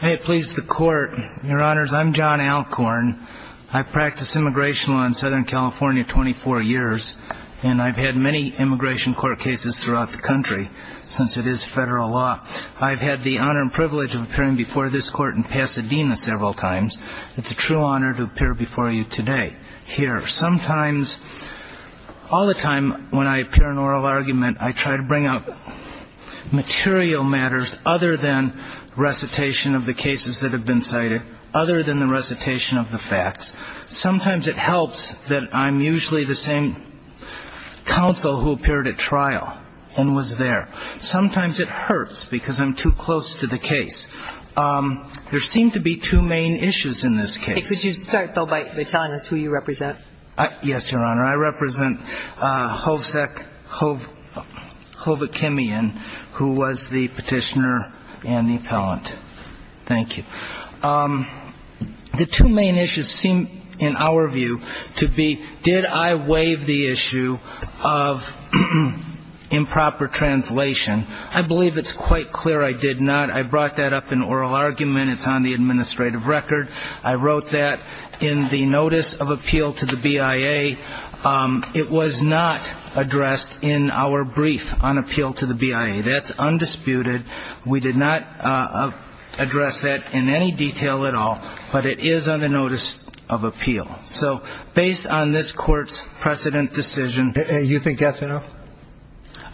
I please the court. Your honors, I'm John Alcorn. I practice immigration law in Southern California for 24 years, and I've had many immigration court cases throughout the country since it is federal law. I've had the honor and privilege of appearing before this court in Pasadena several times. It's a true honor to appear before you today here. Sometimes, all the time when I appear in oral argument, I try to bring up material matters other than recitation of the cases that have been cited, other than the recitation of the facts. Sometimes it helps that I'm usually the same counsel who appeared at trial and was there. Sometimes it hurts because I'm too close to the case. There seem to be two main issues in this case. Could you start, though, by telling us who you represent? Yes, Your Honor. I represent Hovsek Hovakimian, who was the petitioner and the appellant. Thank you. The two main issues seem, in our view, to be did I waive the issue of improper translation. I believe it's quite clear I did not. I brought that up in oral argument. It's on the administrative record. I wrote that in the notice of appeal to the BIA. It was not addressed in our brief on appeal to the BIA. That's undisputed. We did not address that in any detail at all. But it is on the notice of appeal. So based on this court's precedent decision You think that's enough?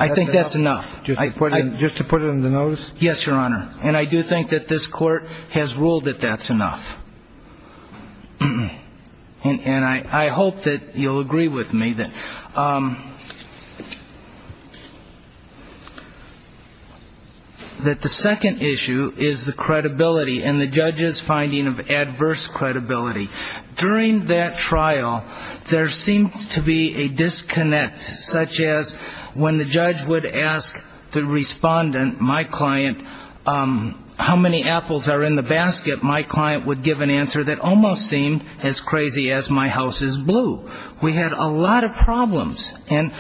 I think that's enough. Just to put it in the notice? Yes, Your Honor. And I do think that this court has ruled that that's enough. And I hope that you'll agree with me that the second issue is the credibility and the judge's finding of adverse credibility. During that trial, there seemed to be a disconnect, such as when the judge would ask the respondent, my client, how many apples are in the basket, my client would give an answer that almost seemed as crazy as my house is blue. We had a lot of problems. And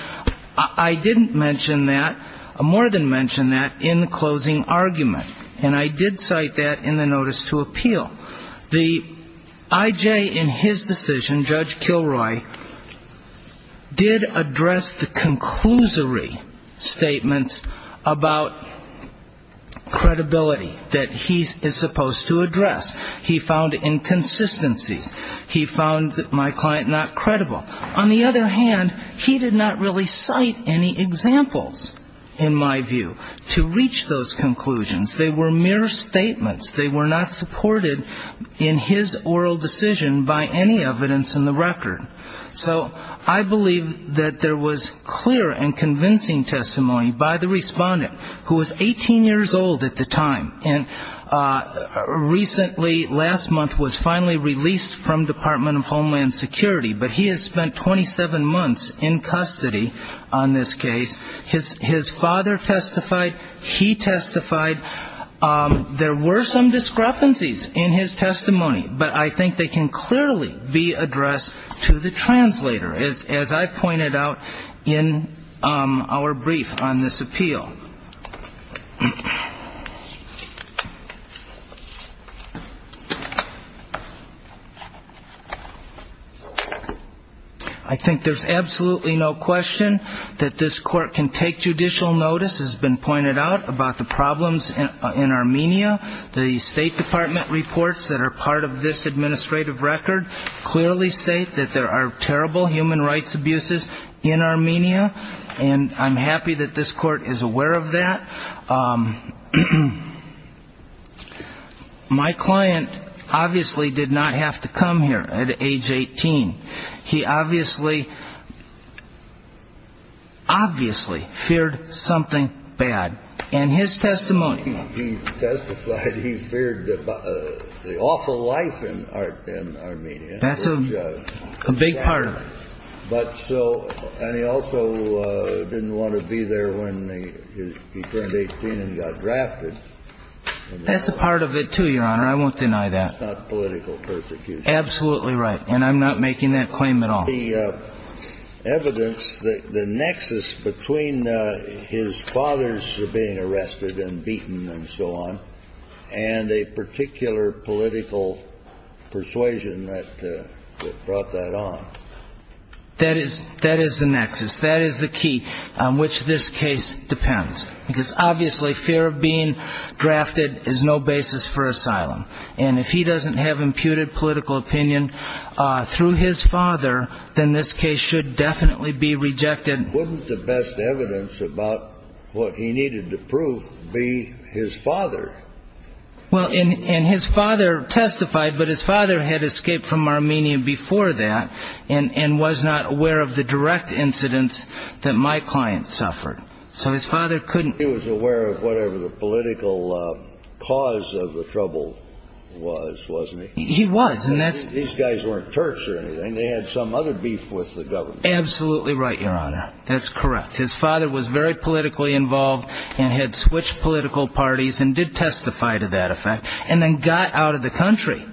I didn't mention that, more than mention that, in the closing argument. And I did cite that in the notice to appeal. The I.J. in his decision, Judge Kilroy, did address the conclusory statements about credibility that he is supposed to address. He found inconsistencies. He found my client not credible. On the other hand, he did not really cite any examples, in my view, to reach those conclusions. They were mere statements. They were not supported in his oral decision by any evidence in the record. So I believe that there was clear and convincing testimony by the respondent, who was 18 years old at the time, and recently, last month, was finally released from Department of Homeland Security. But he has spent 27 months in custody on this case. His father testified. He testified. There were some discrepancies in his testimony. But I think they can clearly be addressed to the translator, as I pointed out in our brief on this appeal. I think there's absolutely no question that this court can take judicial notice, as has been pointed out, about the problems in Armenia. The State Department reports that are part of this administrative record clearly state that there are terrible human rights abuses in Armenia. And I'm happy that this court is aware of that. My client, obviously, did not have to come here at age 18. He did not have to be there. He obviously, obviously feared something bad in his testimony. He testified he feared the awful life in Armenia. That's a big part of it. But so, and he also didn't want to be there when he turned 18 and got drafted. That's a part of it, too, Your Honor. I won't deny that. It's not political persecution. You're absolutely right. And I'm not making that claim at all. The evidence, the nexus between his father's being arrested and beaten and so on, and a particular political persuasion that brought that on. That is the nexus. That is the key on which this case depends. Because, obviously, fear of being drafted is no basis for asylum. And if he doesn't have imputed political opinion through his father, then this case should definitely be rejected. Wasn't the best evidence about what he needed to prove be his father? Well, and his father testified, but his father had escaped from Armenia before that and was not aware of the direct incidents that my client suffered. He was aware of whatever the political cause of the trouble was, wasn't he? He was. These guys weren't Turks or anything. They had some other beef with the government. Absolutely right, Your Honor. That's correct. His father was very politically involved and had switched political parties and did testify to that effect and then got out of the country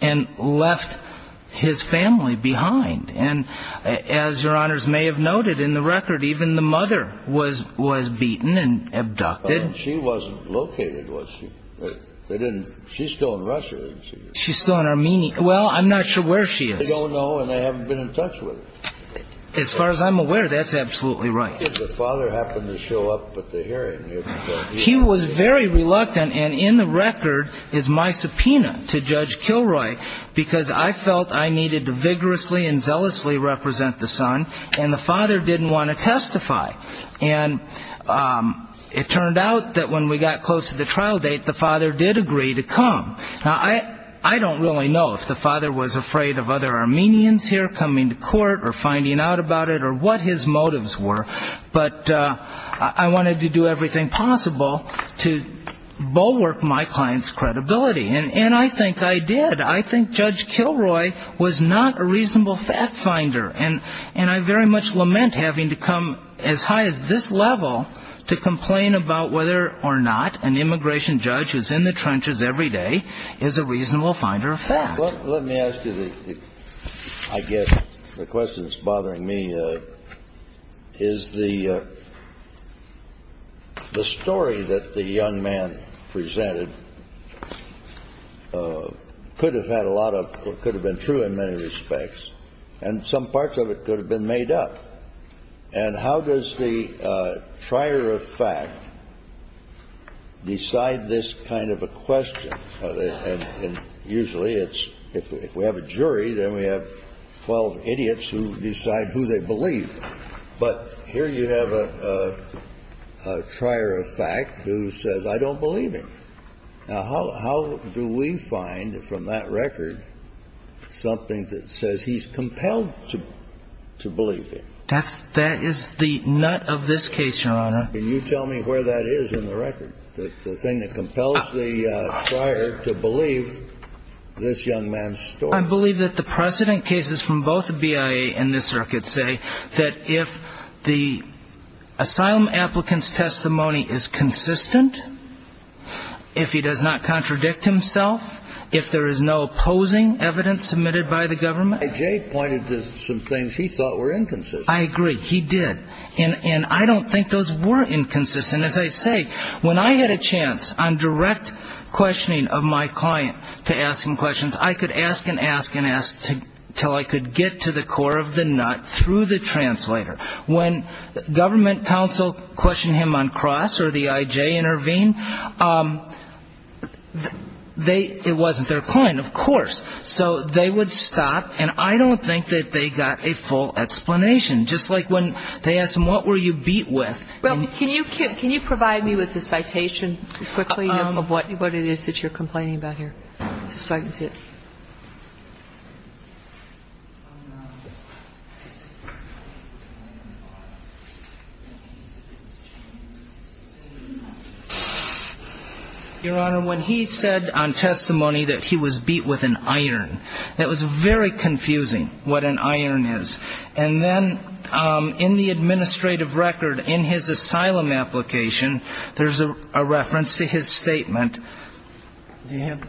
and left his family behind. And as Your Honors may have noted in the record, even the mother was beaten and abducted. She wasn't located, was she? She's still in Russia, isn't she? She's still in Armenia. Well, I'm not sure where she is. I don't know, and I haven't been in touch with her. As far as I'm aware, that's absolutely right. The father happened to show up at the hearing. He was very reluctant, and in the record is my subpoena to Judge Kilroy, because I felt I needed to vigorously and zealously represent the son, and the father didn't want to testify. And it turned out that when we got close to the trial date, the father did agree to come. Now, I don't really know if the father was afraid of other Armenians here coming to court or finding out about it or what his motives were, but I wanted to do everything possible to bulwark my client's credibility. And I think I did. I think Judge Kilroy was not a reasonable fact finder, and I very much lament having to come as high as this level to complain about whether or not an immigration judge who's in the trenches every day is a reasonable finder of facts. Let me ask you, I guess, the question that's bothering me, is the story that the young man presented could have had a lot of, or could have been true in many respects, and some parts of it could have been made up. And how does the trier of fact decide this kind of a question? And usually it's, if we have a jury, then we have 12 idiots who decide who they believe. But here you have a trier of fact who says, I don't believe him. Now, how do we find from that record something that says he's compelled to believe him? That is the nut of this case, Your Honor. Can you tell me where that is in the record? The thing that compels the trier to believe this young man's story. I believe that the precedent cases from both the BIA and this circuit say that if the asylum applicant's testimony is consistent, if he does not contradict himself, if there is no opposing evidence submitted by the government. Jay pointed to some things he thought were inconsistent. I agree. He did. And I don't think those were inconsistent. And as I say, when I had a chance on direct questioning of my client to ask him questions, I could ask and ask and ask until I could get to the core of the nut through the translator. When government counsel questioned him on CROSS or the IJ intervened, they, it wasn't their client, of course. So they would stop, and I don't think that they got a full explanation. Just like when they asked him, what were you beat with? Well, can you provide me with the citation quickly of what it is that you're complaining about here, so I can see it? Your Honor, when he said on testimony that he was beat with an iron, that was very confusing, what an iron is. And then in the administrative record, in his asylum application, there's a reference to his statement. Do you have?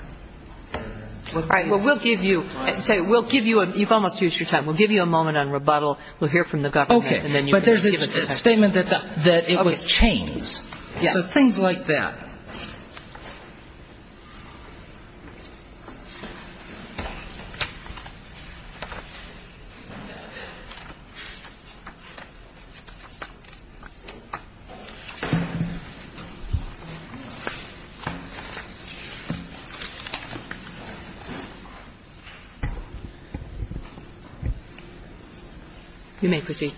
All right. Well, we'll give you you've almost used your time. We'll give you a moment on rebuttal. We'll hear from the government. Okay. But there's a statement that it was chains. So things like that. You may proceed.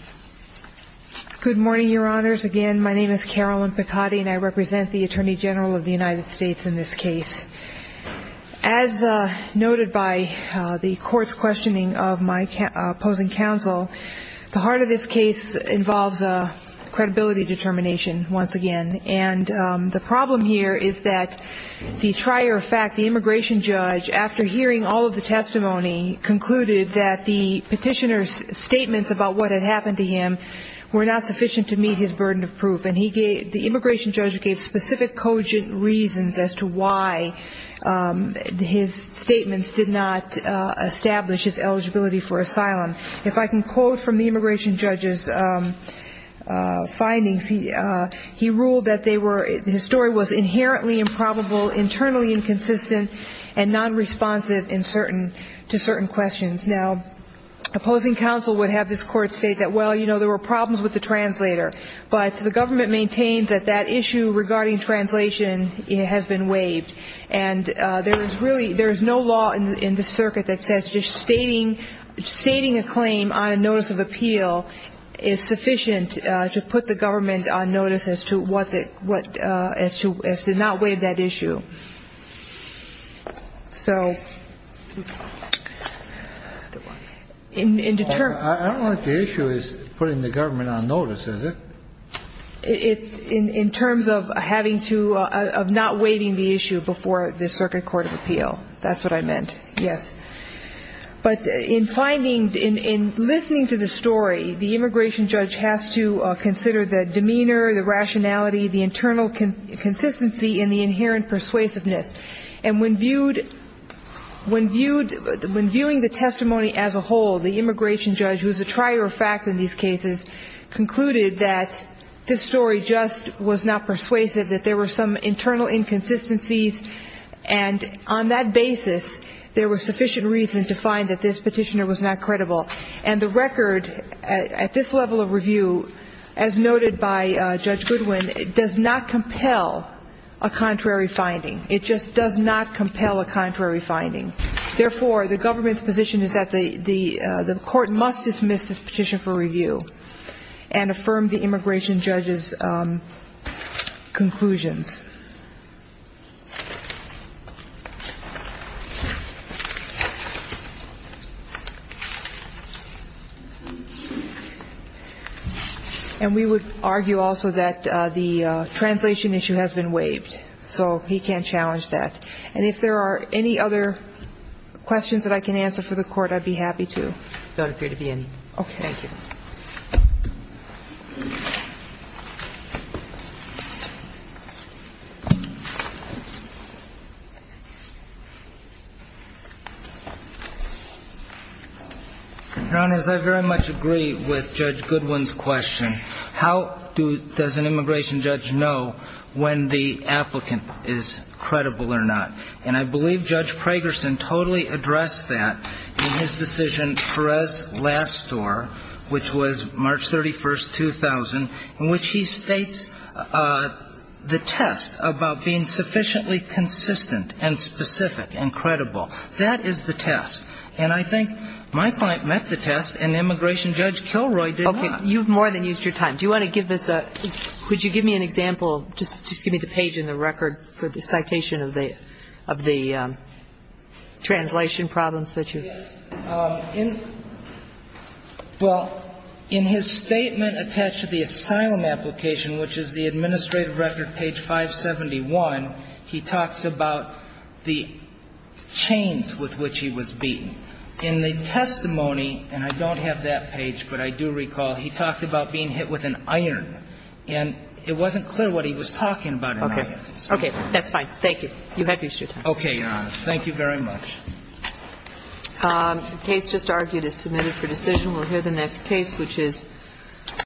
Good morning, Your Honors. Again, my name is Carolyn Picotti, and I represent the Attorney General of the United States in this case. As noted by the Court's questioning of my opposing counsel, the heart of this case involves credibility determination, once again. And the problem here is that the trier of fact, the immigration judge, after hearing all of the testimony, concluded that the petitioner's statements about what had happened to him were not sufficient to meet his burden of proof. And the immigration judge gave specific, cogent reasons as to why his statements did not establish his eligibility for asylum. If I can quote from the immigration judge's findings, he ruled that they were his story was inherently improbable, internally inconsistent, and nonresponsive to certain questions. Now, opposing counsel would have this court state that, well, you know, there were problems with the translator. But the government maintains that that issue regarding translation has been waived. And there is really no law in the circuit that says just stating a claim on a notice of appeal is sufficient to put the government on notice as to what the ‑‑ as to not waive that issue. So in the term ‑‑ I don't think the issue is putting the government on notice, is it? It's in terms of having to ‑‑ of not waiving the issue before the circuit court of appeal. That's what I meant. Yes. But in finding ‑‑ in listening to the story, the immigration judge has to consider the demeanor, the rationality, the internal consistency, and the inherent persuasiveness. And when viewed ‑‑ when viewing the testimony as a whole, the immigration judge, who is a trier of fact in these cases, concluded that this story just was not persuasive, that there were some internal inconsistencies. And on that basis, there was sufficient reason to find that this petitioner was not credible. And the record at this level of review, as noted by Judge Goodwin, does not compel a contrary finding. It just does not compel a contrary finding. Therefore, the government's position is that the court must dismiss this petition for review and affirm the immigration judge's conclusions. And we would argue also that the translation issue has been waived. So he can't challenge that. And if there are any other questions that I can answer for the Court, I'd be happy to. There don't appear to be any. Okay. Thank you. Your Honors, I very much agree with Judge Goodwin's question. How does an immigration judge know when the applicant is credible or not? And I believe Judge Pragerson totally addressed that in his decision, Perez-Lastor, which was March 31st, 2000, in which he states the test about being sufficiently consistent and specific and credible. That is the test. And I think my client met the test, and immigration judge Kilroy did not. Okay. You've more than used your time. Do you want to give us a – could you give me an example? Just give me the page in the record for the citation of the translation problems that you – Yes. Well, in his statement attached to the asylum application, which is the administrative record, page 571, he talks about the chains with which he was beaten. In the testimony, and I don't have that page, but I do recall, he talked about being hit with an iron. And it wasn't clear what he was talking about. Okay. Okay. That's fine. Thank you. You have used your time. Okay. Your Honors. Thank you very much. The case just argued is submitted for decision. We'll hear the next case, which is –